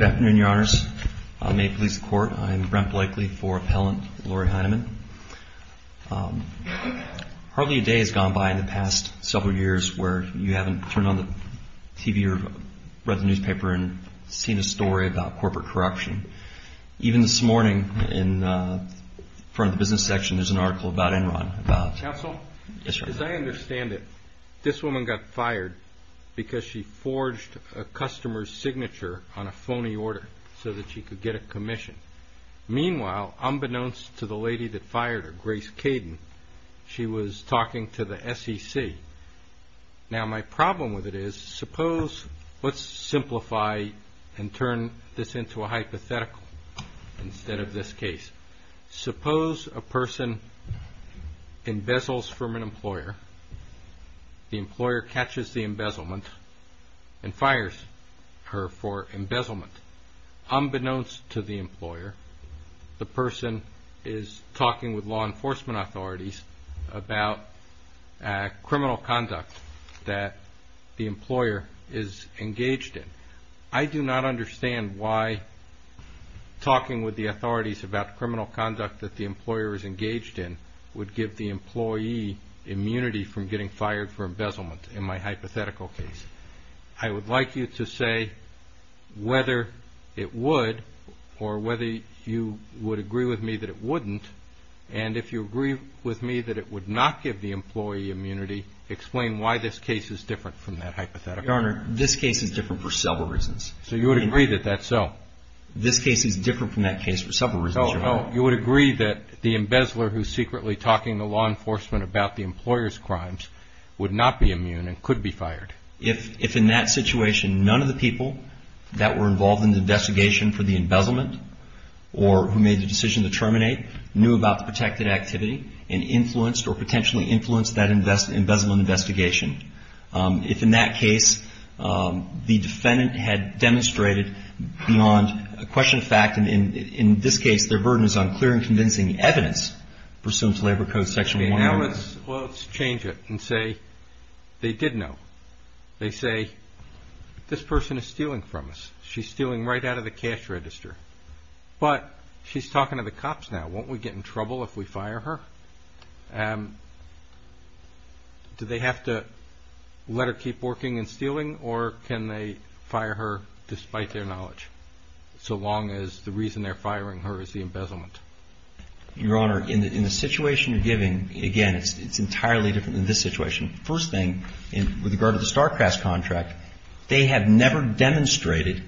Good afternoon, Your Honors. May it please the Court, I am Brent Blakely for Appellant Laurie Heinemann. Hardly a day has gone by in the past several years where you haven't turned on the TV or read the newspaper and seen a story about corporate corruption. Even this morning, in front of the business section, there's an article about Enron about... Counsel, as I understand it, this woman got fired because she forged a customer's signature on a phony order so that she could get a commission. Meanwhile, unbeknownst to the lady that fired her, Grace Caden, she was talking to the SEC. Now my problem with it is, suppose, let's get to a hypothetical instead of this case. Suppose a person embezzles from an employer, the employer catches the embezzlement and fires her for embezzlement. Unbeknownst to the employer, the person is talking with law enforcement authorities about criminal conduct that the employer is engaged in. I do not understand why talking with the authorities about criminal conduct that the employer is engaged in would give the employee immunity from getting fired for embezzlement in my hypothetical case. I would like you to say whether it would or whether you would agree with me that it wouldn't, and if you agree with me that it would not give the employee immunity, explain why this case is different from that hypothetical. Your Honor, this case is different for several reasons. So you would agree that that's so? This case is different from that case for several reasons, Your Honor. Oh, you would agree that the embezzler who's secretly talking to law enforcement about the employer's crimes would not be immune and could be fired? If in that situation, none of the people that were involved in the investigation for the embezzlement or who made the decision to terminate knew about the protected activity and influenced or potentially influenced that embezzlement investigation, if in that case, the defendant had demonstrated beyond a question of fact, and in this case, their burden is on clear and convincing evidence pursuant to Labor Code Section 100. Okay, now let's change it and say they did know. They say, this person is stealing from us. She's stealing right out of the cash register. But she's talking to the cops now. Won't we get in trouble if we fire her? Do they have to let her keep working and stealing, or can they fire her despite their knowledge, so long as the reason they're firing her is the embezzlement? Your Honor, in the situation you're giving, again, it's entirely different than this situation. First thing, with regard to the StarCrafts contract, they have never demonstrated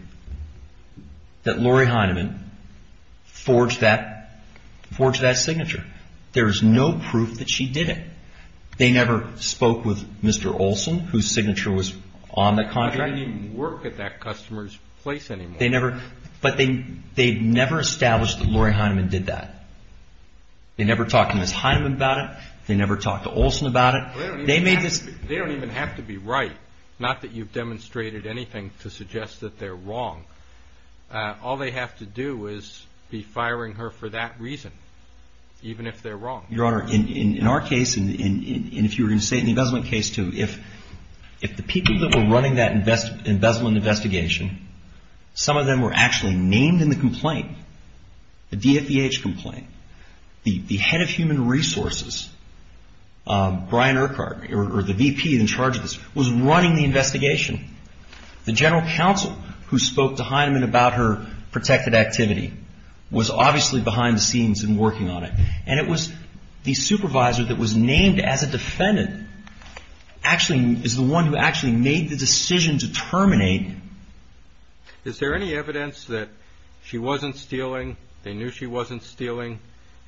that Lori Heinemann forged that signature. There is no proof that she did it. They never spoke with Mr. Olson, whose signature was on the contract. They didn't even work at that customer's place anymore. But they never established that Lori Heinemann did that. They never talked to Ms. Heinemann about it. They never talked to Olson about it. They don't even have to be right, not that you've demonstrated anything to suggest that they're wrong. All they have to do is be firing her for that reason, even if they're wrong. Your Honor, in our case, and if you were going to say it in the embezzlement case, too, if the people that were running that embezzlement investigation, some of them were actually named in the complaint, the DFVH complaint, the head of human resources, Brian Urquhart, or the VP in charge of this, was running the investigation. The general counsel who spoke to Heinemann about her protected activity was obviously behind the scenes and working on it. And it was the supervisor that was named as a defendant actually is the one who actually made the decision to terminate. Is there any evidence that she wasn't stealing, they knew she wasn't stealing,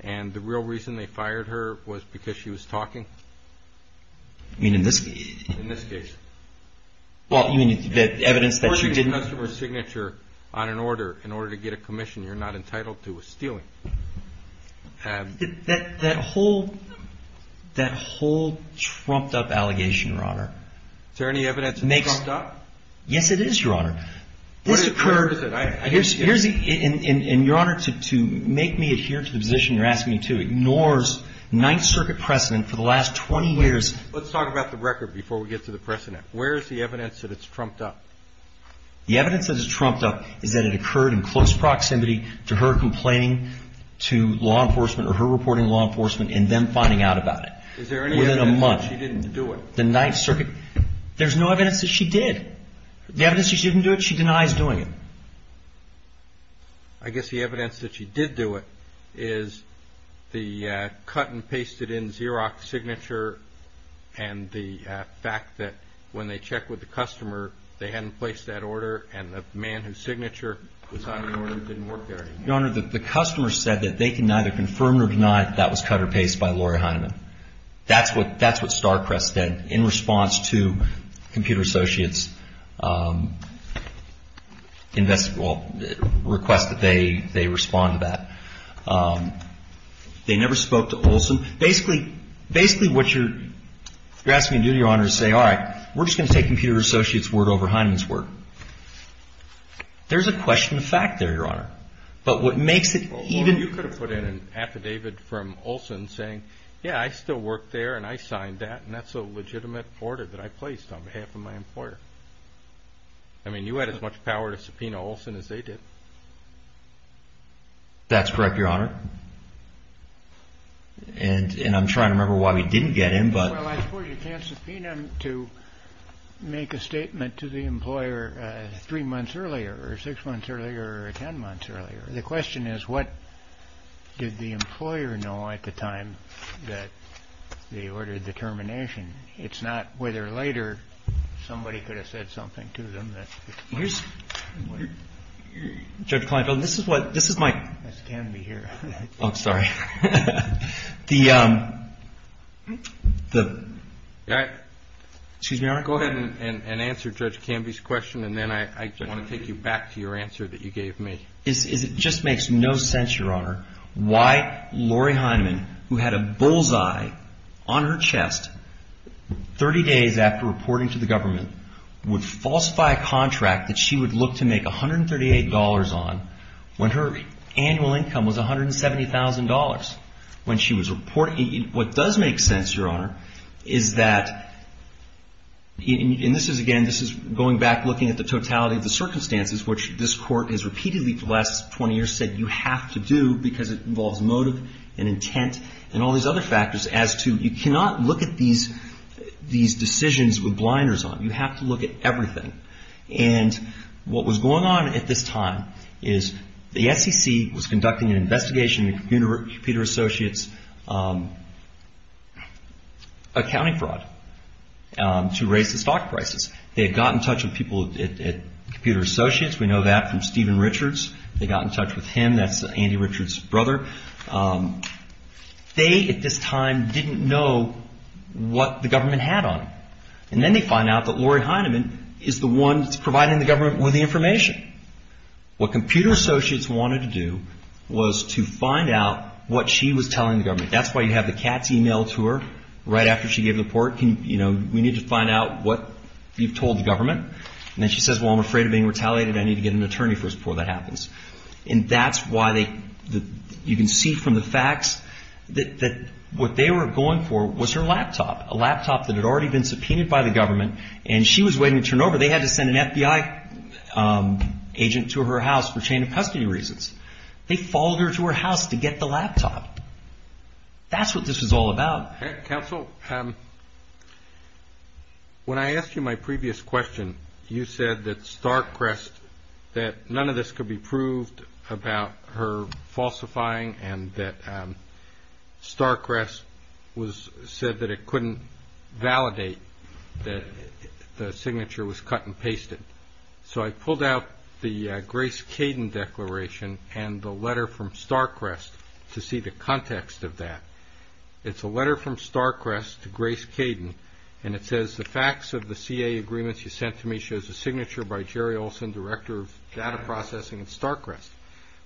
and the real reason they fired her was because she was talking? You mean in this case? In this case. Well, you mean the evidence that she didn't... Of course you must have her signature on an order in order to get a commission. You're not entitled to a stealing. That whole trumped up allegation, Your Honor... Is there any evidence that it's stuck? Yes, it is, Your Honor. This occurred... And Your Honor, to make me adhere to the position you're asking me to, ignores Ninth Circuit precedent for the last 20 years... Let's talk about the record before we get to the precedent. Where is the evidence that it's trumped up? The evidence that it's trumped up is that it occurred in close proximity to her complaining to law enforcement or her reporting to law enforcement and them finding out about it. Is there any evidence that she didn't do it? The Ninth Circuit... There's no evidence that she did. The evidence that she didn't do it, she denies doing it. I guess the evidence that she did do it is the cut and pasted in Xerox signature and the fact that when they checked with the customer, they hadn't placed that order and the man whose signature was on the order didn't work there anymore. Your Honor, the customer said that they can neither confirm nor deny that that was cut and pasted by Lori Heineman. That's what Starcrest did in response to Computer Associates request that they respond to that. They never spoke to Olson. Basically, what you're asking me to do, Your Honor, is say, all right, we're just going to take Computer Associates' word over Heineman's word. There's a question of fact there, Your Honor. But what makes it even... Olson saying, yeah, I still work there and I signed that and that's a legitimate order that I placed on behalf of my employer. I mean, you had as much power to subpoena Olson as they did. That's correct, Your Honor. And I'm trying to remember why we didn't get him, but... Well, I suppose you can't subpoena him to make a statement to the employer three months earlier or six months earlier or ten months earlier. The question is, what did the employer know at the time that they ordered the termination? It's not whether later somebody could have said something to them that... Here's... Judge Kleinfeld, this is what... This is my... That's Canby here. I'm sorry. The... All right. Excuse me, Your Honor. Go ahead and answer Judge Canby's question and then I want to take you back to your answer that you gave me. It just makes no sense, Your Honor, why Lori Hyneman, who had a bullseye on her chest 30 days after reporting to the government, would falsify a contract that she would look to make $138 on when her annual income was $170,000. When she was reporting... What does make sense, Your Honor, is that... And this is, again, this is going back looking at the totality of the circumstances which this court has repeatedly for the last 20 years said you have to do because it involves motive and intent and all these other factors as to... You cannot look at these decisions with blinders on. You have to look at everything. And what was going on at this time is the SEC was conducting an investigation in Computer Associates accounting fraud to raise the stock prices. They had gotten in touch with people at Computer Associates. We know that from Stephen Richards. They got in touch with him. That's Andy Richards' brother. They, at this time, didn't know what the government had on them. And then they find out that Lori Hyneman is the one that's providing the government with the information. What Computer Associates wanted to do was to find out what she was telling the government. That's why you have the cat's email to her right after she gave the report. We need to find out what you've told the government. And then she says, well, I'm afraid of being retaliated. I need to get an attorney first before that happens. And that's why you can see from the facts that what they were going for was her laptop, a laptop that had already been subpoenaed by the government, and she was waiting to turn over. They had to send an FBI agent to her house for chain of custody reasons. They followed her to her house to get the laptop. That's what this was all about. Counsel, when I asked you my previous question, you said that StarCrest, that none of this could be proved about her falsifying and that StarCrest said that it couldn't validate that the signature was cut and pasted. So I pulled out the Grace Caden declaration and the letter from StarCrest to see the context of that. It's a letter from StarCrest to Grace Caden, and it says the facts of the CA agreements you sent to me shows a signature by Jerry Olson, director of data processing at StarCrest.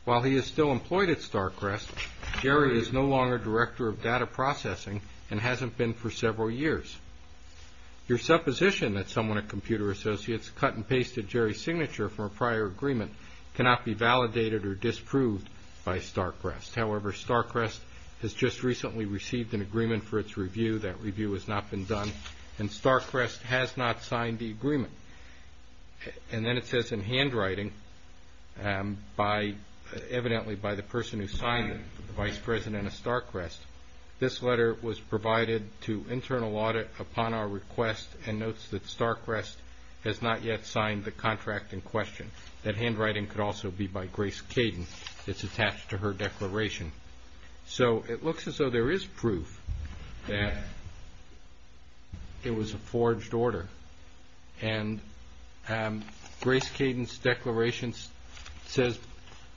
While he is still employed at StarCrest, Jerry is no longer director of data processing and hasn't been for several years. Your supposition that someone at Computer Associates cut and pasted Jerry's signature from a prior agreement cannot be validated or disproved by StarCrest. However, StarCrest has just recently received an agreement for its review. That review has not been done, and StarCrest has not signed the agreement. And then it says in handwriting, evidently by the person who signed it, the vice president of StarCrest, this letter was provided to internal audit upon our request and notes that StarCrest has not yet signed the contract in question. That handwriting could also be by Grace Caden. It's attached to her declaration. So it looks as though there is proof that it was a forged order. And Grace Caden's declaration says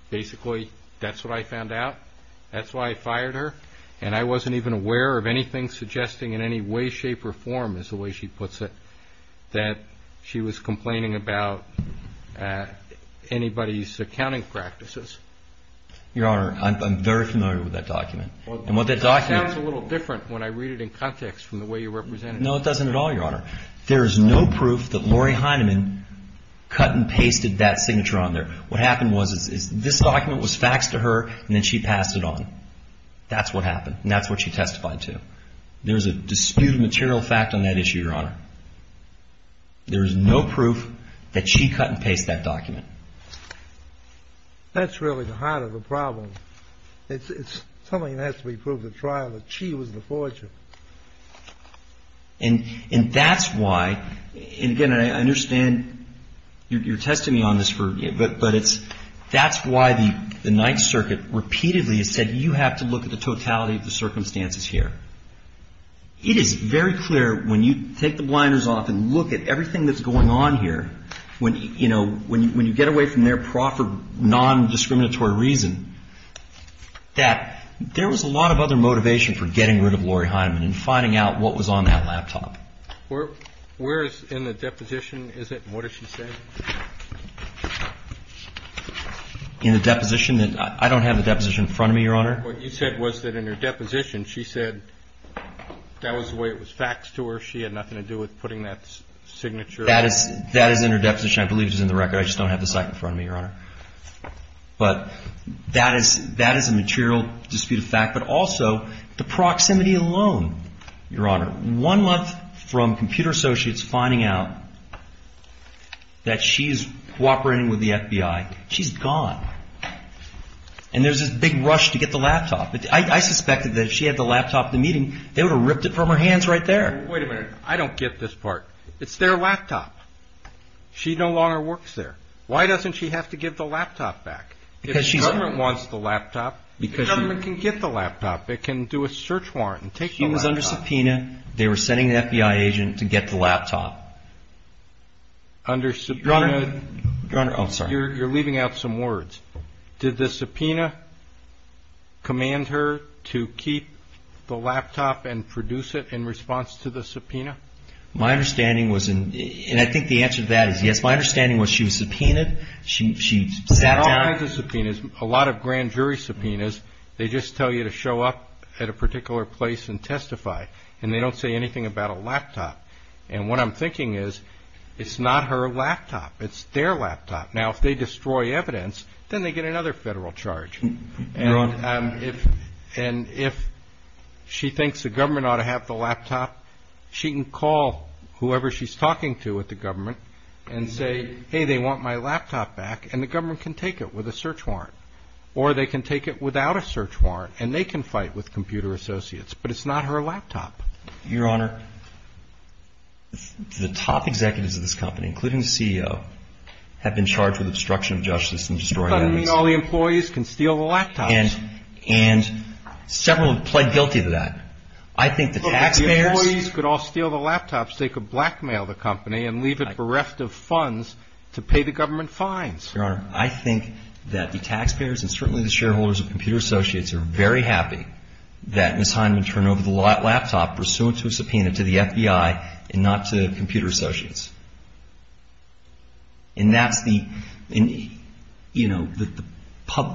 basically that's what I found out, that's why I fired her, and I wasn't even aware of anything suggesting in any way, shape, or form, as the way she puts it, that she was complaining about anybody's accounting practices. Your Honor, I'm very familiar with that document. It sounds a little different when I read it in context from the way you represent it. No, it doesn't at all, Your Honor. There is no proof that Lori Heineman cut and pasted that signature on there. What happened was this document was faxed to her, and then she passed it on. That's what happened, and that's what she testified to. There is a disputed material fact on that issue, Your Honor. There is no proof that she cut and pasted that document. That's really the heart of the problem. It's something that has to be proved at trial that she was the forger. And that's why, and again, I understand you're testing me on this, but that's why the Ninth Circuit repeatedly has said you have to look at the totality of the circumstances here. It is very clear when you take the blinders off and look at everything that's going on here, when you get away from there for non-discriminatory reason, that there was a lot of other motivation for getting rid of Lori Heineman and finding out what was on that laptop. Where is it in the deposition? What does she say? In the deposition? I don't have the deposition in front of me, Your Honor. What you said was that in her deposition, she said that was the way it was faxed to her. She had nothing to do with putting that signature. That is in her deposition. I believe it is in the record. I just don't have the site in front of me, Your Honor. But that is a material disputed fact, but also the proximity alone, Your Honor. One month from Computer Associates finding out that she's cooperating with the FBI, she's gone. And there's this big rush to get the laptop. I suspected that if she had the laptop at the meeting, they would have ripped it from her hands right there. Wait a minute. I don't get this part. It's their laptop. She no longer works there. Why doesn't she have to give the laptop back? If the government wants the laptop, the government can get the laptop. It can do a search warrant and take the laptop. She was under subpoena. They were sending an FBI agent to get the laptop. Under subpoena. Your Honor, I'm sorry. You're leaving out some words. Did the subpoena command her to keep the laptop and produce it in response to the subpoena? My understanding was, and I think the answer to that is yes. My understanding was she was subpoenaed. She sat down. A lot of grand jury subpoenas, they just tell you to show up at a particular place and testify. And they don't say anything about a laptop. And what I'm thinking is it's not her laptop. It's their laptop. Now, if they destroy evidence, then they get another federal charge. And if she thinks the government ought to have the laptop, she can call whoever she's talking to at the government and say, hey, they want my laptop back, and the government can take it with a search warrant. Or they can take it without a search warrant, and they can fight with computer associates. But it's not her laptop. Your Honor, the top executives of this company, including the CEO, have been charged with obstruction of justice and destroying evidence. But I mean all the employees can steal the laptops. And several have pled guilty to that. I think the taxpayers – They could blackmail the company and leave it bereft of funds to pay the government fines. Your Honor, I think that the taxpayers and certainly the shareholders of computer associates are very happy that Ms. Hyndman turned over the laptop pursuant to a subpoena to the FBI and not to computer associates. And that's the, you know,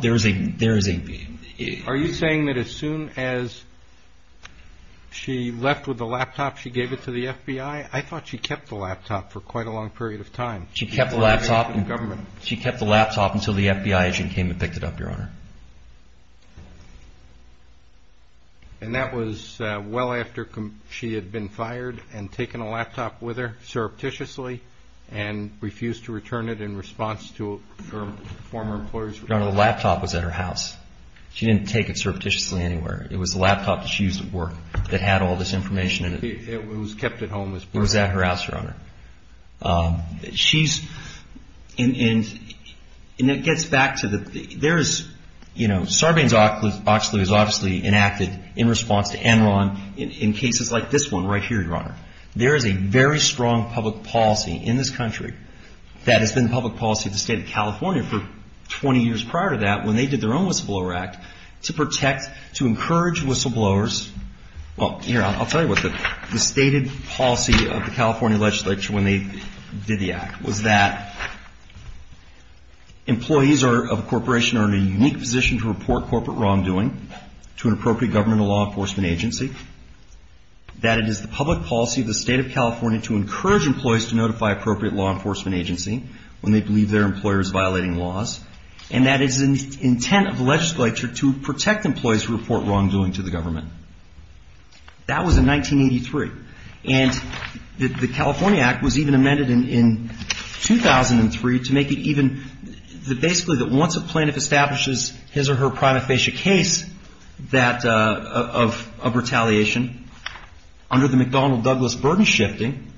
there is a – Are you saying that as soon as she left with the laptop, she gave it to the FBI? I thought she kept the laptop for quite a long period of time. She kept the laptop until the FBI agent came and picked it up, Your Honor. And that was well after she had been fired and taken a laptop with her surreptitiously and refused to return it in response to her former employer's request? Your Honor, the laptop was at her house. She didn't take it surreptitiously anywhere. It was the laptop that she used at work that had all this information in it. It was kept at home with her? It was at her house, Your Honor. She's – and it gets back to the – there is, you know – Sarbanes-Oxley was obviously enacted in response to Enron in cases like this one right here, Your Honor. There is a very strong public policy in this country that has been the public policy of the State of California for 20 years prior to that when they did their own whistleblower act to protect – to encourage whistleblowers – well, here, I'll tell you what the stated policy of the California legislature when they did the act was that employees of a corporation are in a unique position to report corporate wrongdoing to an appropriate government or law enforcement agency, that it is the public policy of the State of California to encourage employees to notify appropriate law enforcement agency when they believe their employer is violating laws, and that it is the intent of the legislature to protect employees who report wrongdoing to the government. That was in 1983. And the California Act was even amended in 2003 to make it even – basically that once a plaintiff establishes his or her prima facie case that – of retaliation, under the McDonnell-Douglas burden shifting,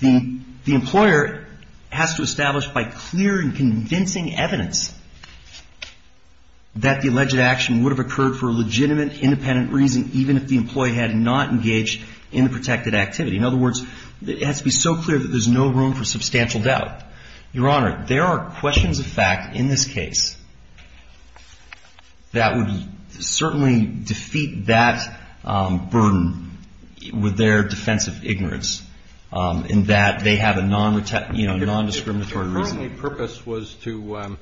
the employer has to establish by clear and convincing evidence that the alleged action would have occurred for a legitimate, independent reason even if the employee had not engaged in the protected activity. In other words, it has to be so clear that there's no room for substantial doubt. Your Honor, there are questions of fact in this case that would certainly defeat that burden with their defensive ignorance in that they have a non-discriminatory reason. If her only purpose was to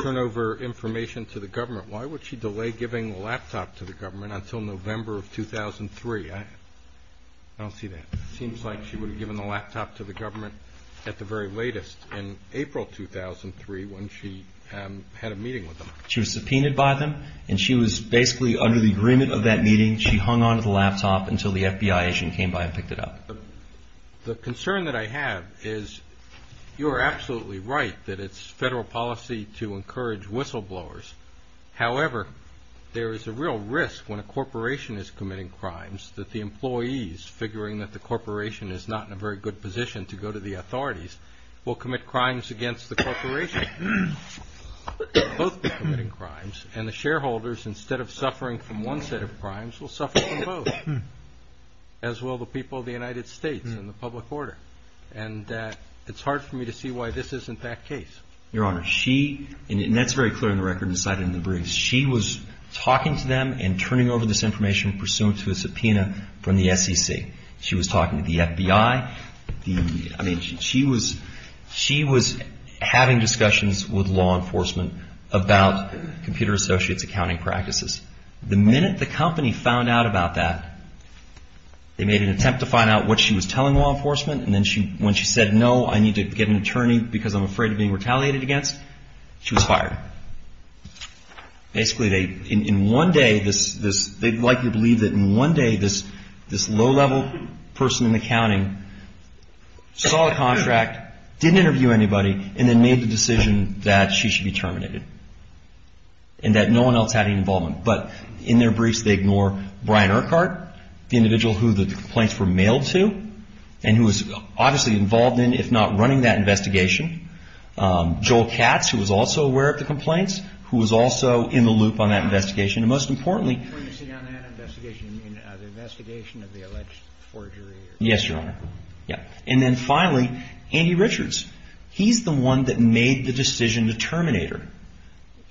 turn over information to the government, why would she delay giving the laptop to the government until November of 2003? I don't see that. It seems like she would have given the laptop to the government at the very latest in April 2003 when she had a meeting with them. She was subpoenaed by them, and she was basically under the agreement of that meeting. She hung on to the laptop until the FBI agent came by and picked it up. The concern that I have is you are absolutely right that it's federal policy to encourage whistleblowers. However, there is a real risk when a corporation is committing crimes that the employees, figuring that the corporation is not in a very good position to go to the authorities, will commit crimes against the corporation. Both will be committing crimes, and the shareholders, instead of suffering from one set of crimes, will suffer from both, as will the people of the United States and the public order. And it's hard for me to see why this isn't that case. Your Honor, she, and that's very clear in the record and cited in the briefs, she was talking to them and turning over this information pursuant to a subpoena from the SEC. She was talking to the FBI. I mean, she was having discussions with law enforcement about Computer Associates' accounting practices. The minute the company found out about that, they made an attempt to find out what she was telling law enforcement, and then when she said, no, I need to get an attorney because I'm afraid of being retaliated against, she was fired. Basically, in one day, they'd likely believe that in one day this low-level person in accounting saw a contract, didn't interview anybody, and then made the decision that she should be terminated and that no one else had any involvement. But in their briefs, they ignore Brian Urquhart, the individual who the complaints were mailed to and who was obviously involved in, if not running that investigation. Joel Katz, who was also aware of the complaints, who was also in the loop on that investigation. And most importantly... When you say on that investigation, you mean the investigation of the alleged forgery? Yes, Your Honor. Yeah. And then finally, Andy Richards. He's the one that made the decision to terminate her.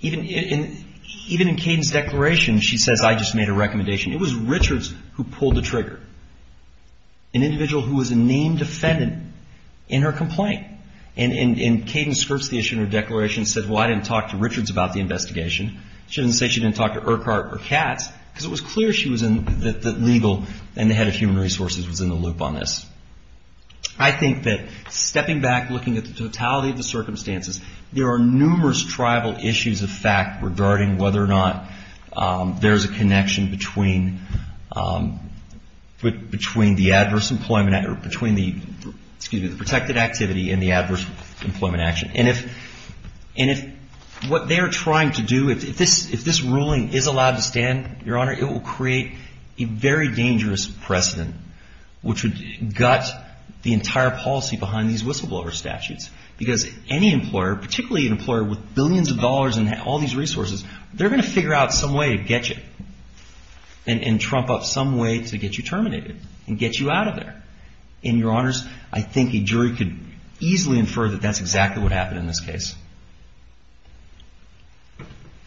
Even in Kayden's declaration, she says, I just made a recommendation. It was Richards who pulled the trigger. An individual who was a named defendant in her complaint. And Kayden skirts the issue in her declaration and said, well, I didn't talk to Richards about the investigation. She didn't say she didn't talk to Urquhart or Katz because it was clear she was in the legal and the head of human resources was in the loop on this. I think that stepping back, looking at the totality of the circumstances, there are numerous tribal issues of fact regarding whether or not there's a connection between the adverse employment or between the protected activity and the adverse employment action. And if what they are trying to do, if this ruling is allowed to stand, Your Honor, it will create a very dangerous precedent which would gut the entire policy behind these whistleblower statutes. Because any employer, particularly an employer with billions of dollars and all these resources, they're going to figure out some way to get you and trump up some way to get you terminated and get you out of there. And, Your Honors, I think a jury could easily infer that that's exactly what happened in this case.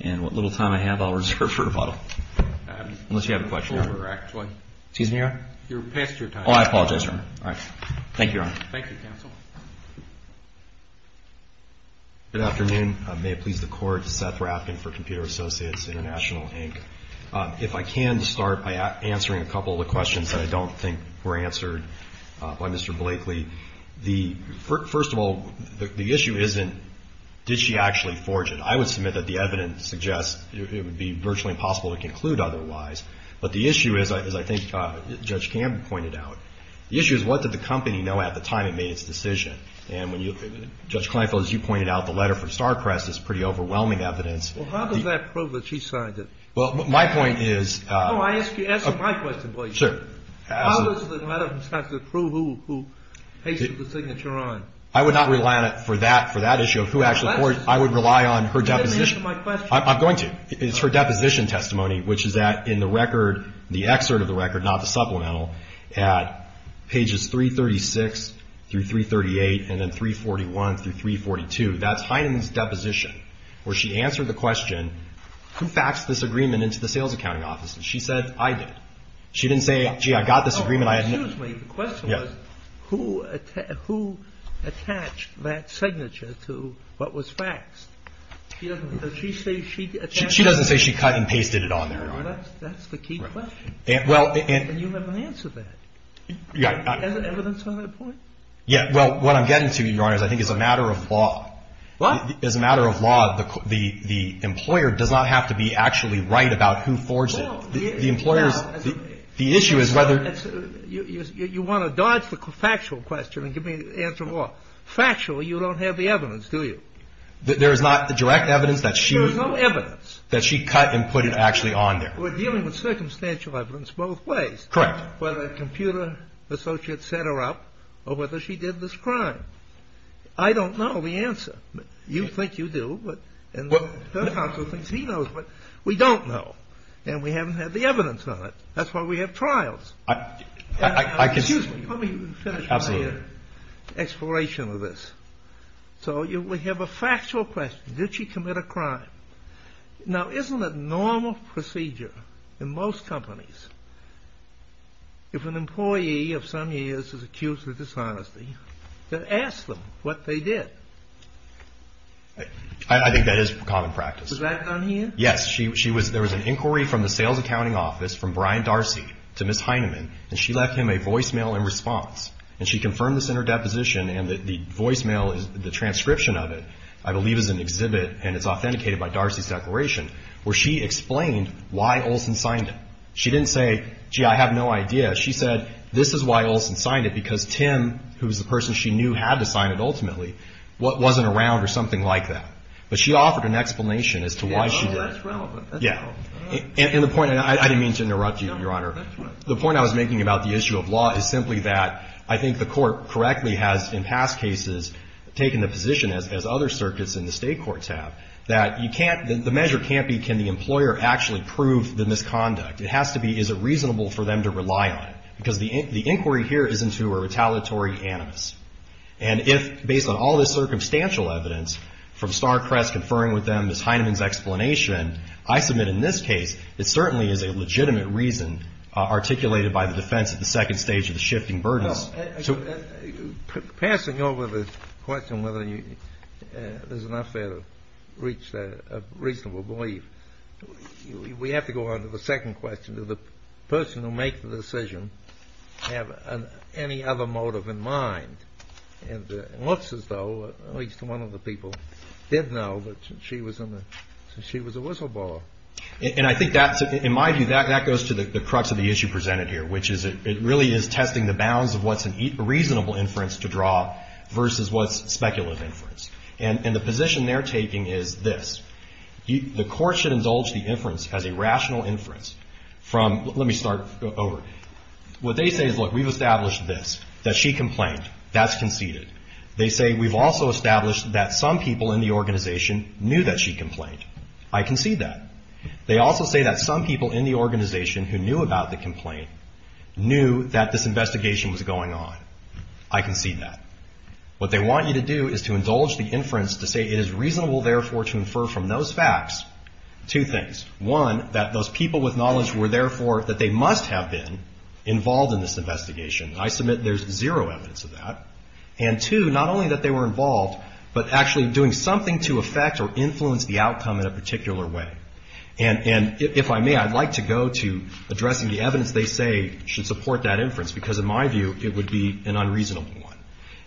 And what little time I have, I'll reserve for rebuttal. Unless you have a question. Excuse me, Your Honor? Oh, I apologize, Your Honor. All right. Thank you, Your Honor. Thank you, counsel. Good afternoon. May it please the Court. Seth Rapkin for Computer Associates International, Inc. If I can start by answering a couple of the questions that I don't think were answered by Mr. Blakely. First of all, the issue isn't did she actually forge it. I would submit that the evidence suggests it would be virtually impossible to conclude otherwise. But the issue is, as I think Judge Campbell pointed out, the issue is what did the company know at the time it made its decision. And when you, Judge Kleinfeld, as you pointed out, the letter from StarCrest is pretty overwhelming evidence. Well, how does that prove that she signed it? Well, my point is. No, I ask you, answer my question, please. Sure. How does the letter from StarCrest prove who pasted the signature on? I would not rely on it for that issue of who actually forged it. I would rely on her deposition. Answer my question. I'm going to. It's her deposition testimony, which is that in the record, the excerpt of the record, not the supplemental, at pages 336 through 338 and then 341 through 342, that's Heinemann's deposition, where she answered the question, who faxed this agreement into the sales accounting office? And she said, I did. She didn't say, gee, I got this agreement. Excuse me. The question was who attached that signature to what was faxed. She doesn't say she cut and pasted it on there, Your Honor. That's the key question. And you haven't answered that. Yeah. Is there evidence on that point? Yeah. Well, what I'm getting to, Your Honor, I think is a matter of law. What? As a matter of law, the employer does not have to be actually right about who forged it. The employer's – the issue is whether – You want to dodge the factual question and give me the answer of law. Factually, you don't have the evidence, do you? There is not the direct evidence that she – There is no evidence. That she cut and put it actually on there. We're dealing with circumstantial evidence both ways. Correct. Whether a computer associate set her up or whether she did this crime. I don't know the answer. You think you do. And the judge also thinks he knows. But we don't know. And we haven't had the evidence on it. That's why we have trials. I can – Excuse me. Let me finish my little exploration of this. So we have a factual question. Did she commit a crime? Now, isn't it normal procedure in most companies if an employee of some years is accused of dishonesty to ask them what they did? I think that is common practice. Was that done here? Yes. She was – there was an inquiry from the Sales Accounting Office from Brian Darcy to Ms. Heineman, and she left him a voicemail in response. And she confirmed this in her deposition, and the voicemail, the transcription of it, I believe, is an exhibit, and it's authenticated by Darcy's declaration, where she explained why Olson signed it. She didn't say, gee, I have no idea. She said, this is why Olson signed it, because Tim, who was the person she knew had to sign it ultimately, wasn't around or something like that. But she offered an explanation as to why she did it. Yeah, well, that's relevant. That's relevant. Yeah. And the point – and I didn't mean to interrupt you, Your Honor. No, that's fine. The point I was making about the issue of law is simply that I think the Court correctly has, in past cases, taken a position, as other circuits in the state courts have, that you can't – the measure can't be can the employer actually prove the misconduct. It has to be is it reasonable for them to rely on it, because the inquiry here is into a retaliatory animus. And if, based on all this circumstantial evidence, from Starcrest conferring with them Ms. Heineman's explanation, I submit in this case it certainly is a legitimate reason articulated by the defense at the second stage of the shifting burdens. No. Passing over the question whether there's enough there to reach a reasonable belief, we have to go on to the second question. Did the person who made the decision have any other motive in mind? It looks as though at least one of the people did know that she was a whistleblower. And I think that's – in my view, that goes to the crux of the issue presented here, which is it really is testing the bounds of what's a reasonable inference to draw versus what's speculative inference. And the position they're taking is this. The Court should indulge the inference as a rational inference from – let me start over. What they say is, look, we've established this, that she complained. That's conceded. They say we've also established that some people in the organization knew that she complained. I concede that. They also say that some people in the organization who knew about the complaint knew that this investigation was going on. I concede that. What they want you to do is to indulge the inference to say it is reasonable, therefore, to infer from those facts two things. One, that those people with knowledge were therefore – that they must have been involved in this investigation. I submit there's zero evidence of that. And two, not only that they were involved, but actually doing something to affect or influence the outcome in a particular way. And if I may, I'd like to go to addressing the evidence they say should support that inference, because in my view, it would be an unreasonable one.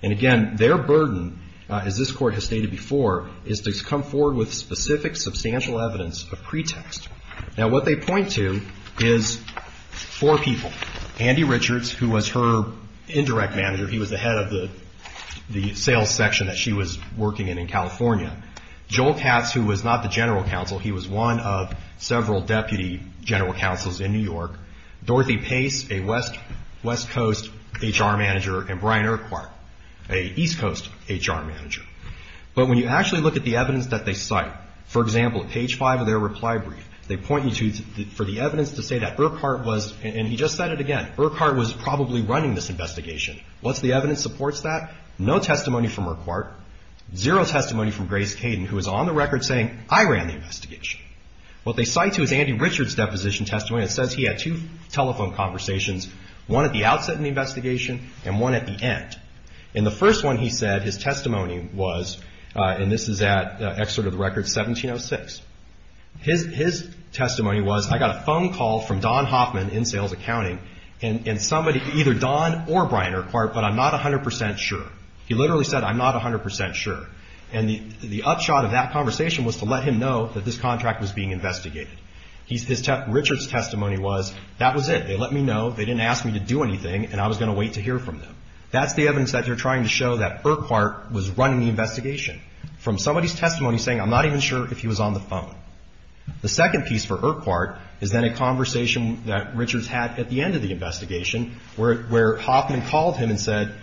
And again, their burden, as this Court has stated before, is to come forward with specific substantial evidence of pretext. Now, what they point to is four people. Andy Richards, who was her indirect manager. He was the head of the sales section that she was working in in California. Joel Katz, who was not the general counsel. He was one of several deputy general counsels in New York. Dorothy Pace, a West Coast HR manager. And Brian Urquhart, an East Coast HR manager. But when you actually look at the evidence that they cite, for example, at page five of their reply brief, they point you to – for the evidence to say that Urquhart was – and he just said it again. Urquhart was probably running this investigation. What's the evidence that supports that? No testimony from Urquhart. Zero testimony from Grace Caden, who is on the record saying, I ran the investigation. What they cite to is Andy Richards' deposition testimony that says he had two telephone conversations, one at the outset of the investigation and one at the end. In the first one, he said his testimony was – and this is at excerpt of the record 1706. His testimony was, I got a phone call from Don Hoffman in sales accounting, and somebody – either Don or Brian Urquhart, but I'm not 100% sure. He literally said, I'm not 100% sure. And the upshot of that conversation was to let him know that this contract was being investigated. His – Richards' testimony was, that was it. They let me know, they didn't ask me to do anything, and I was going to wait to hear from them. That's the evidence that they're trying to show that Urquhart was running the investigation, from somebody's testimony saying, I'm not even sure if he was on the phone. The second piece for Urquhart is then a conversation that Richards had at the end of the investigation where Hoffman called him and said,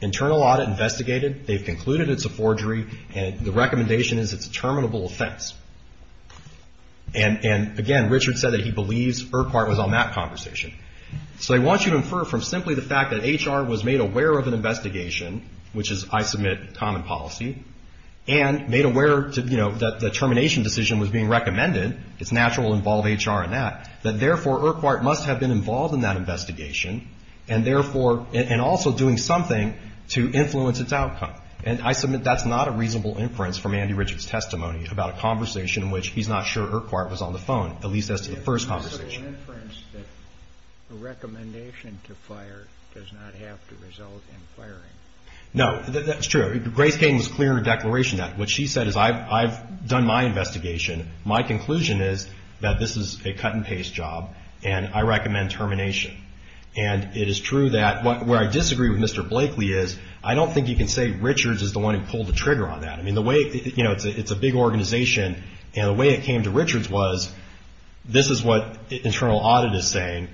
internal audit investigated. They've concluded it's a forgery, and the recommendation is it's a terminable offense. And, again, Richards said that he believes Urquhart was on that conversation. So I want you to infer from simply the fact that HR was made aware of an investigation, which is, I submit, common policy, and made aware, you know, that the termination decision was being recommended, it's natural to involve HR in that, that therefore Urquhart must have been involved in that investigation, and therefore, and also doing something to influence its outcome. And I submit that's not a reasonable inference from Andy Richards' testimony about a conversation in which he's not sure Urquhart was on the phone, at least as to the first conversation. The recommendation to fire does not have to result in firing. No, that's true. Grace Gaten was clear in her declaration that what she said is I've done my investigation. My conclusion is that this is a cut-and-paste job, and I recommend termination. And it is true that where I disagree with Mr. Blakely is, I don't think you can say Richards is the one who pulled the trigger on that. I mean, the way, you know, it's a big organization, and the way it came to Richards was, this is what internal audit is saying,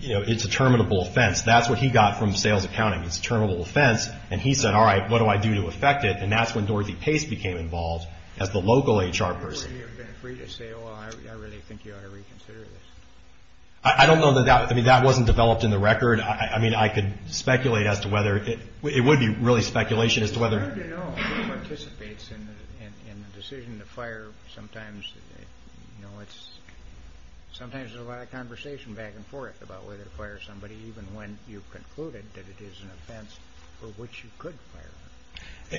you know, it's a terminable offense. That's what he got from sales accounting. It's a terminable offense, and he said, all right, what do I do to affect it? And that's when Dorothy Pace became involved as the local HR person. Would you have been free to say, well, I really think you ought to reconsider this? I don't know that that, I mean, that wasn't developed in the record. I mean, I could speculate as to whether, it would be really speculation as to whether. It's hard to know who participates in the decision to fire. Sometimes, you know, it's, sometimes there's a lot of conversation back and forth about whether to fire somebody, even when you've concluded that it is an offense for which you could fire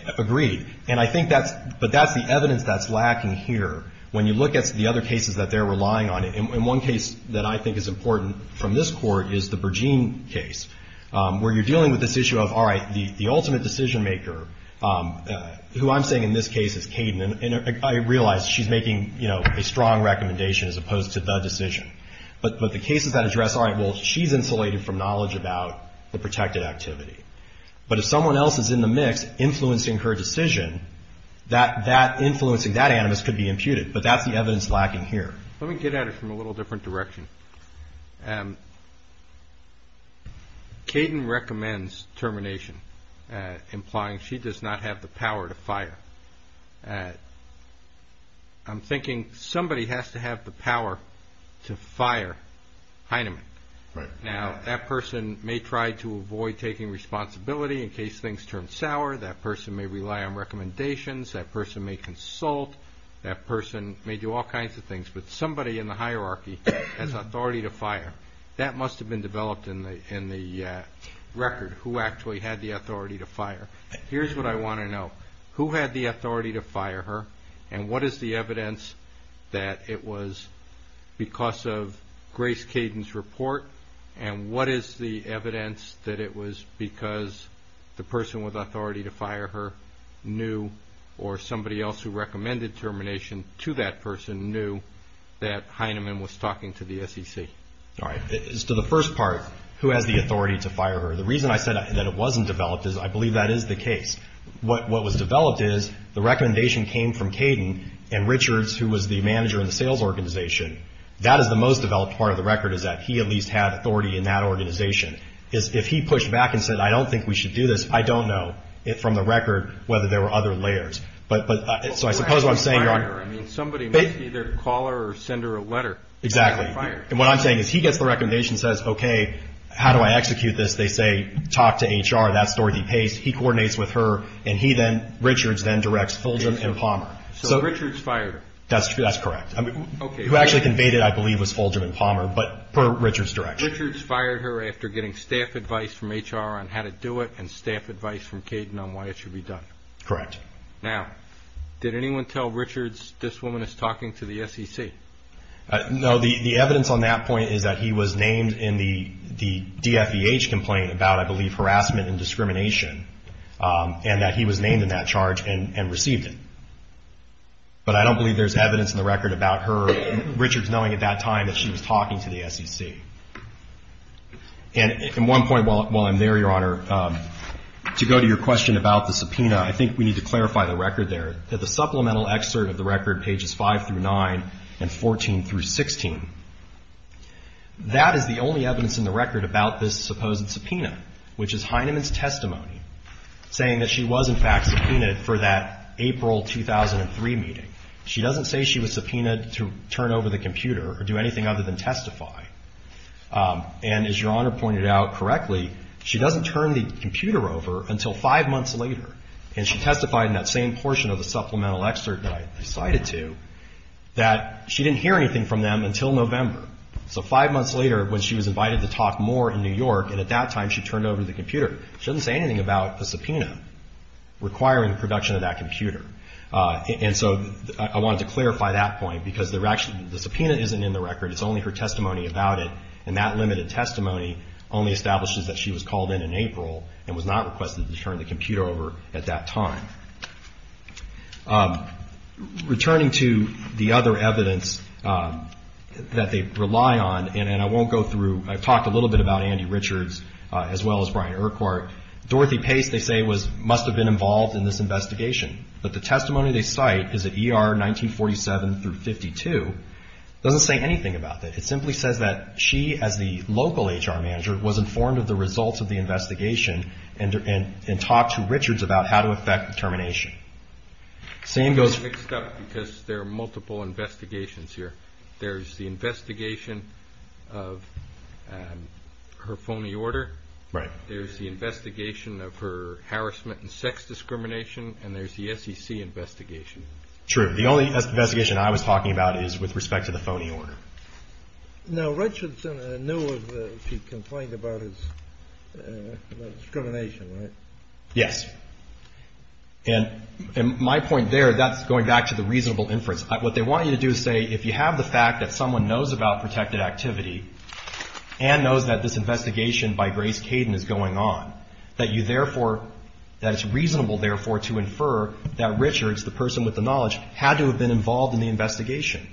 them. Agreed. And I think that's, but that's the evidence that's lacking here. When you look at the other cases that they're relying on, and one case that I think is important from this Court is the Bergeen case, where you're dealing with this issue of, all right, the ultimate decision maker, who I'm saying in this case is Kayden, and I realize she's making, you know, a strong recommendation as opposed to the decision. But the cases that address, all right, well, she's insulated from knowledge about the protected activity. But if someone else is in the mix influencing her decision, that influencing, that animus could be imputed, but that's the evidence lacking here. Let me get at it from a little different direction. Kayden recommends termination, implying she does not have the power to fire. I'm thinking somebody has to have the power to fire Heinemann. Right. Now, that person may try to avoid taking responsibility in case things turn sour. That person may rely on recommendations. That person may consult. That person may do all kinds of things. But somebody in the hierarchy has authority to fire. That must have been developed in the record, who actually had the authority to fire. Here's what I want to know. Who had the authority to fire her, and what is the evidence that it was because of Grace Kayden's report, and what is the evidence that it was because the person with authority to fire her knew or somebody else who recommended termination to that person knew that Heinemann was talking to the SEC? All right. As to the first part, who has the authority to fire her, the reason I said that it wasn't developed is I believe that is the case. What was developed is the recommendation came from Kayden, and Richards, who was the manager in the sales organization, that is the most developed part of the record is that he at least had authority in that organization. If he pushed back and said, I don't think we should do this, I don't know, from the record, whether there were other layers. So I suppose what I'm saying. Somebody must either call her or send her a letter. Exactly. And what I'm saying is he gets the recommendation and says, okay, how do I execute this? They say, talk to HR. That's Dorothy Pace. He coordinates with her, and Richards then directs Fulgham and Palmer. So Richards fired her. That's correct. Who actually conveyed it, I believe, was Fulgham and Palmer, but per Richards' direction. Richards fired her after getting staff advice from HR on how to do it and staff advice from Kayden on why it should be done. Correct. Now, did anyone tell Richards this woman is talking to the SEC? No. The evidence on that point is that he was named in the DFEH complaint about, I believe, harassment and discrimination, and that he was named in that charge and received it. But I don't believe there's evidence in the record about Richards knowing at that time that she was talking to the SEC. And at one point while I'm there, Your Honor, to go to your question about the subpoena, I think we need to clarify the record there, that the supplemental excerpt of the record, pages 5 through 9 and 14 through 16, that is the only evidence in the record about this supposed subpoena, which is Heineman's testimony saying that she was, in fact, subpoenaed for that April 2003 meeting. She doesn't say she was subpoenaed to turn over the computer or do anything other than testify. And as Your Honor pointed out correctly, she doesn't turn the computer over until five months later, and she testified in that same portion of the supplemental excerpt that I cited to, that she didn't hear anything from them until November. So five months later when she was invited to talk more in New York, and at that time she turned over the computer, she doesn't say anything about the subpoena requiring the production of that computer. And so I wanted to clarify that point because the subpoena isn't in the record. It's only her testimony about it, and that limited testimony only establishes that she was called in in April and was not requested to turn the computer over at that time. Returning to the other evidence that they rely on, and I won't go through, I've talked a little bit about Andy Richards as well as Brian Urquhart. Dorothy Pace, they say, must have been involved in this investigation. But the testimony they cite is at ER 1947 through 52. It doesn't say anything about that. It simply says that she, as the local HR manager, was informed of the results of the investigation and talked to Richards about how to effect termination. It's mixed up because there are multiple investigations here. There's the investigation of her phony order. There's the investigation of her harassment and sex discrimination, and there's the SEC investigation. True. The only investigation I was talking about is with respect to the phony order. Now, Richards knew of the complaint about his discrimination, right? Yes. And my point there, that's going back to the reasonable inference. What they want you to do is say if you have the fact that someone knows about protected activity and knows that this investigation by Grace Caden is going on, that you therefore, that it's reasonable, therefore, to infer that Richards, the person with the knowledge, had to have been involved in the investigation,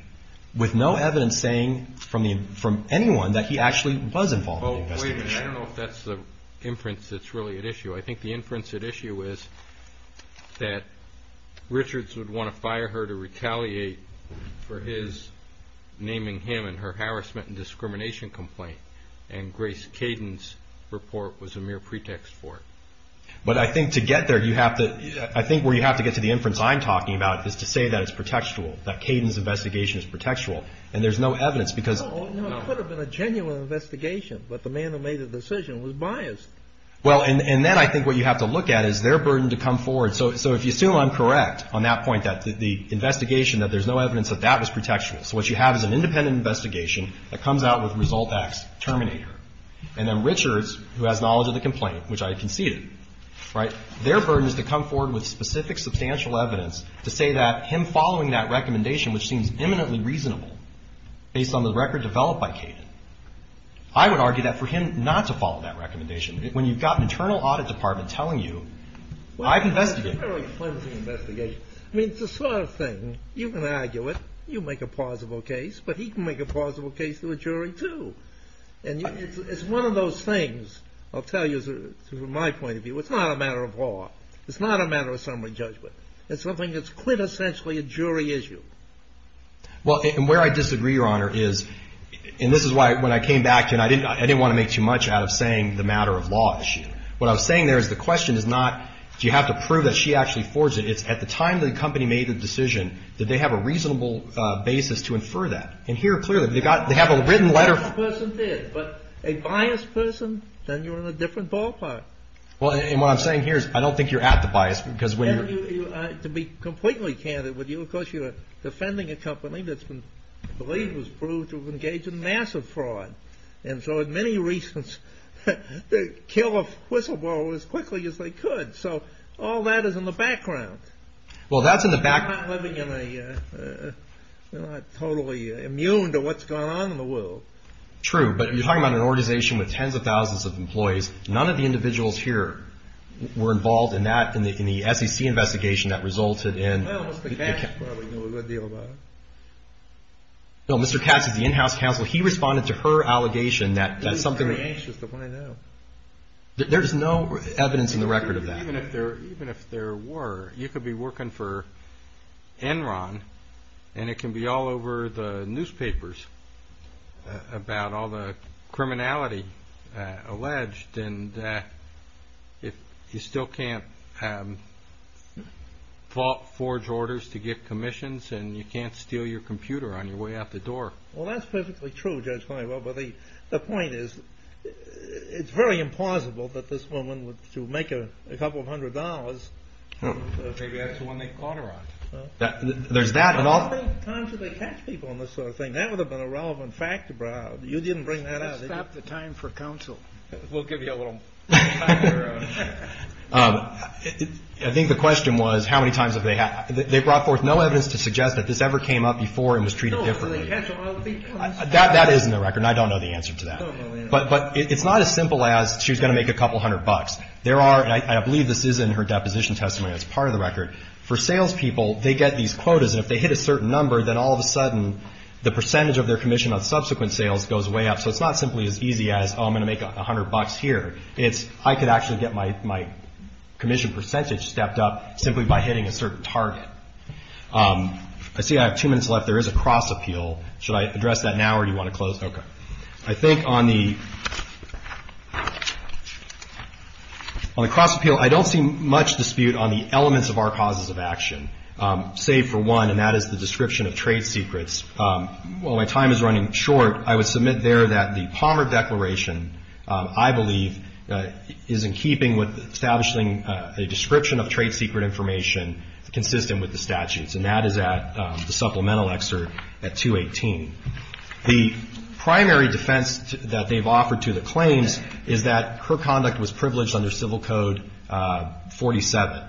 with no evidence saying from anyone that he actually was involved in the investigation. Wait a minute. I don't know if that's the inference that's really at issue. I think the inference at issue is that Richards would want to fire her to retaliate for his naming him in her harassment and discrimination complaint, and Grace Caden's report was a mere pretext for it. But I think to get there, I think where you have to get to the inference I'm talking about is to say that it's protectual, that Caden's investigation is protectual, and there's no evidence because... No, it could have been a genuine investigation, but the man who made the decision was biased. Well, and then I think what you have to look at is their burden to come forward. So if you assume I'm correct on that point, that the investigation, that there's no evidence that that was protectual, so what you have is an independent investigation that comes out with result X, Terminator, and then Richards, who has knowledge of the complaint, which I conceded, right, their burden is to come forward with specific substantial evidence to say that him following that recommendation, which seems imminently reasonable based on the record developed by Caden, I would argue that for him not to follow that recommendation, when you've got an internal audit department telling you, I've investigated... Well, it's a very flimsy investigation. I mean, it's the sort of thing, you can argue it. You make a plausible case, but he can make a plausible case to a jury, too. And it's one of those things, I'll tell you, from my point of view, it's not a matter of law. It's not a matter of summary judgment. It's something that's quintessentially a jury issue. Well, and where I disagree, Your Honor, is, and this is why when I came back, I didn't want to make too much out of saying the matter of law issue. What I was saying there is the question is not do you have to prove that she actually forged it. It's at the time the company made the decision, did they have a reasonable basis to infer that? And here, clearly, they have a written letter... A biased person did, but a biased person, then you're in a different ballpark. Well, and what I'm saying here is I don't think you're at the bias because when you're... And to be completely candid with you, of course, you're defending a company that's been believed, was proved to have engaged in massive fraud. And so, in many reasons, they kill a whistleblower as quickly as they could. So all that is in the background. Well, that's in the back... They're not living in a, they're not totally immune to what's going on in the world. True, but you're talking about an organization with tens of thousands of employees. None of the individuals here were involved in that, in the SEC investigation that resulted in... Well, Mr. Katz probably knew a good deal about it. No, Mr. Katz is the in-house counsel. He responded to her allegation that something... He was very anxious to find out. There's no evidence in the record of that. Even if there were, you could be working for Enron, and it can be all over the newspapers about all the criminality alleged, and you still can't forge orders to get commissions, and you can't steal your computer on your way out the door. Well, that's perfectly true, Judge Klein. Well, the point is it's very implausible that this woman, to make a couple of hundred dollars... Maybe that's the one they caught her on. There's that... How many times did they catch people on this sort of thing? That would have been a relevant fact about it. You didn't bring that up. Let's stop the time for counsel. We'll give you a little... I think the question was how many times have they... They brought forth no evidence to suggest that this ever came up before and was treated differently. That is in the record, and I don't know the answer to that. But it's not as simple as she was going to make a couple hundred bucks. There are, and I believe this is in her deposition testimony that's part of the record. For salespeople, they get these quotas, and if they hit a certain number, then all of a sudden the percentage of their commission on subsequent sales goes way up. So it's not simply as easy as, oh, I'm going to make a hundred bucks here. It's I could actually get my commission percentage stepped up simply by hitting a certain target. I see I have two minutes left. There is a cross-appeal. Should I address that now or do you want to close? Okay. I think on the cross-appeal, I don't see much dispute on the elements of our causes of action, save for one, and that is the description of trade secrets. While my time is running short, I would submit there that the Palmer Declaration, I believe, is in keeping with establishing a description of trade secret information consistent with the statutes, and that is at the supplemental excerpt at 218. The primary defense that they've offered to the claims is that her conduct was privileged under Civil Code 47.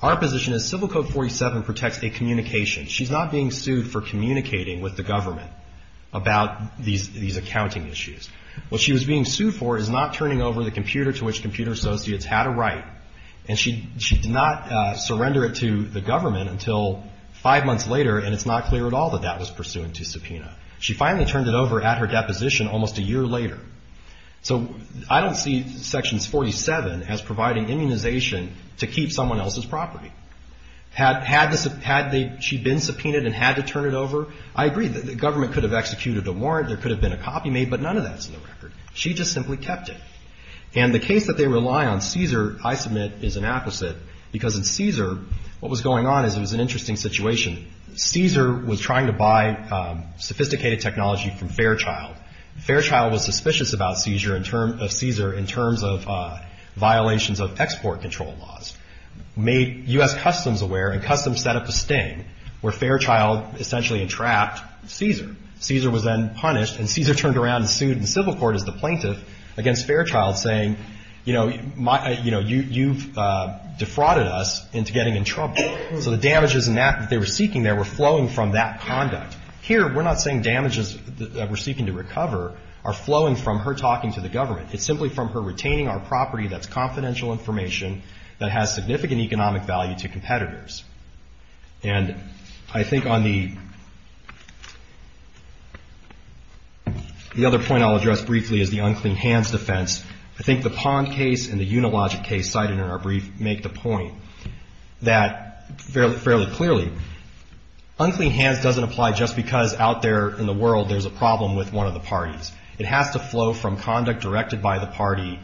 Our position is Civil Code 47 protects a communication. She's not being sued for communicating with the government about these accounting issues. What she was being sued for is not turning over the computer to which Computer Associates had a right, and she did not surrender it to the government until five months later, and it's not clear at all that that was pursuant to subpoena. She finally turned it over at her deposition almost a year later. So I don't see Sections 47 as providing immunization to keep someone else's property. Had she been subpoenaed and had to turn it over, I agree that the government could have executed a warrant, there could have been a copy made, but none of that's in the record. She just simply kept it. And the case that they rely on, CSER, I submit is an apposite because in CSER, what was going on is it was an interesting situation. CSER was trying to buy sophisticated technology from Fairchild. Fairchild was suspicious about CSER in terms of violations of export control laws, made U.S. Customs aware, and Customs set up a sting where Fairchild essentially entrapped CSER. CSER was then punished, and CSER turned around and sued the civil court as the plaintiff against Fairchild saying, you know, you've defrauded us into getting in trouble. So the damages in that that they were seeking there were flowing from that conduct. Here we're not saying damages that we're seeking to recover are flowing from her talking to the government. It's simply from her retaining our property that's confidential information that has significant economic value to competitors. And I think on the other point I'll address briefly is the unclean hands defense. I think the Pond case and the Unilogic case cited in our brief make the point that fairly clearly, unclean hands doesn't apply just because out there in the world there's a problem with one of the parties. It has to flow from conduct directed by the party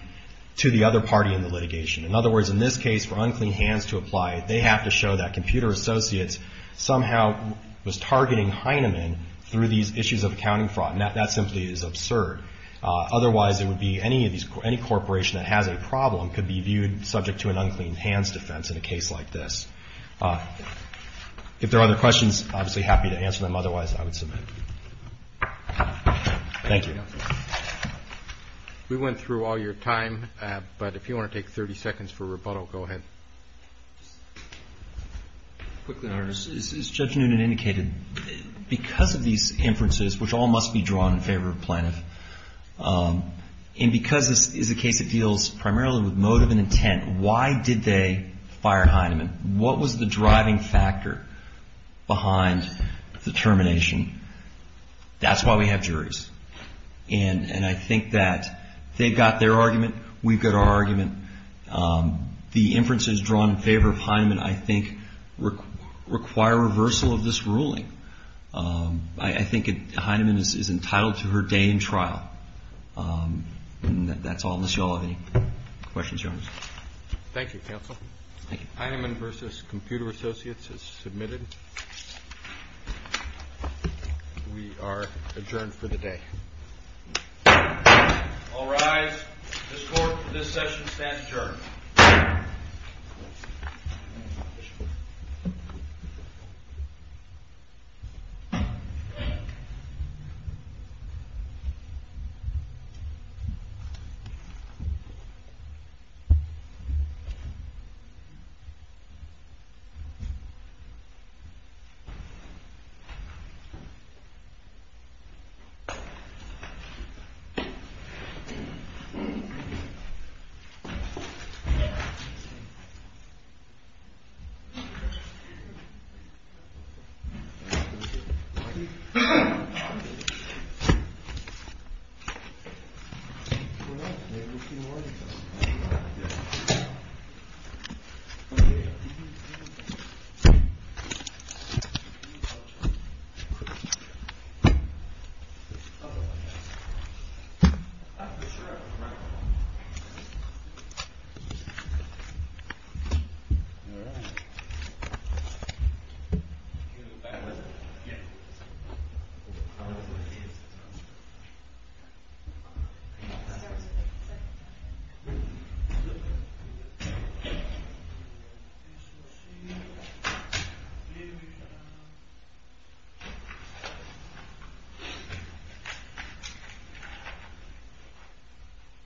to the other party in the litigation. In other words, in this case for unclean hands to apply, they have to show that Computer Associates somehow was targeting Heinemann through these issues of accounting fraud. And that simply is absurd. Otherwise it would be any corporation that has a problem could be viewed subject to an unclean hands defense in a case like this. If there are other questions, obviously happy to answer them. Thank you. Is Judge Noonan indicated because of these inferences, which all must be drawn in favor of Planoff, and because this is a case that deals primarily with motive and intent, why did they fire Heinemann? What was the driving factor behind the termination? That's why we have juries. And I think that they've got their argument, we've got our argument. The inferences drawn in favor of Heinemann I think require reversal of this ruling. I think Heinemann is entitled to her day in trial. That's all, unless you all have any questions. Thank you, counsel. Heinemann versus Computer Associates is submitted. We are adjourned for the day. All rise. This court for this session stands adjourned. Thank you. Thank you. Thank you.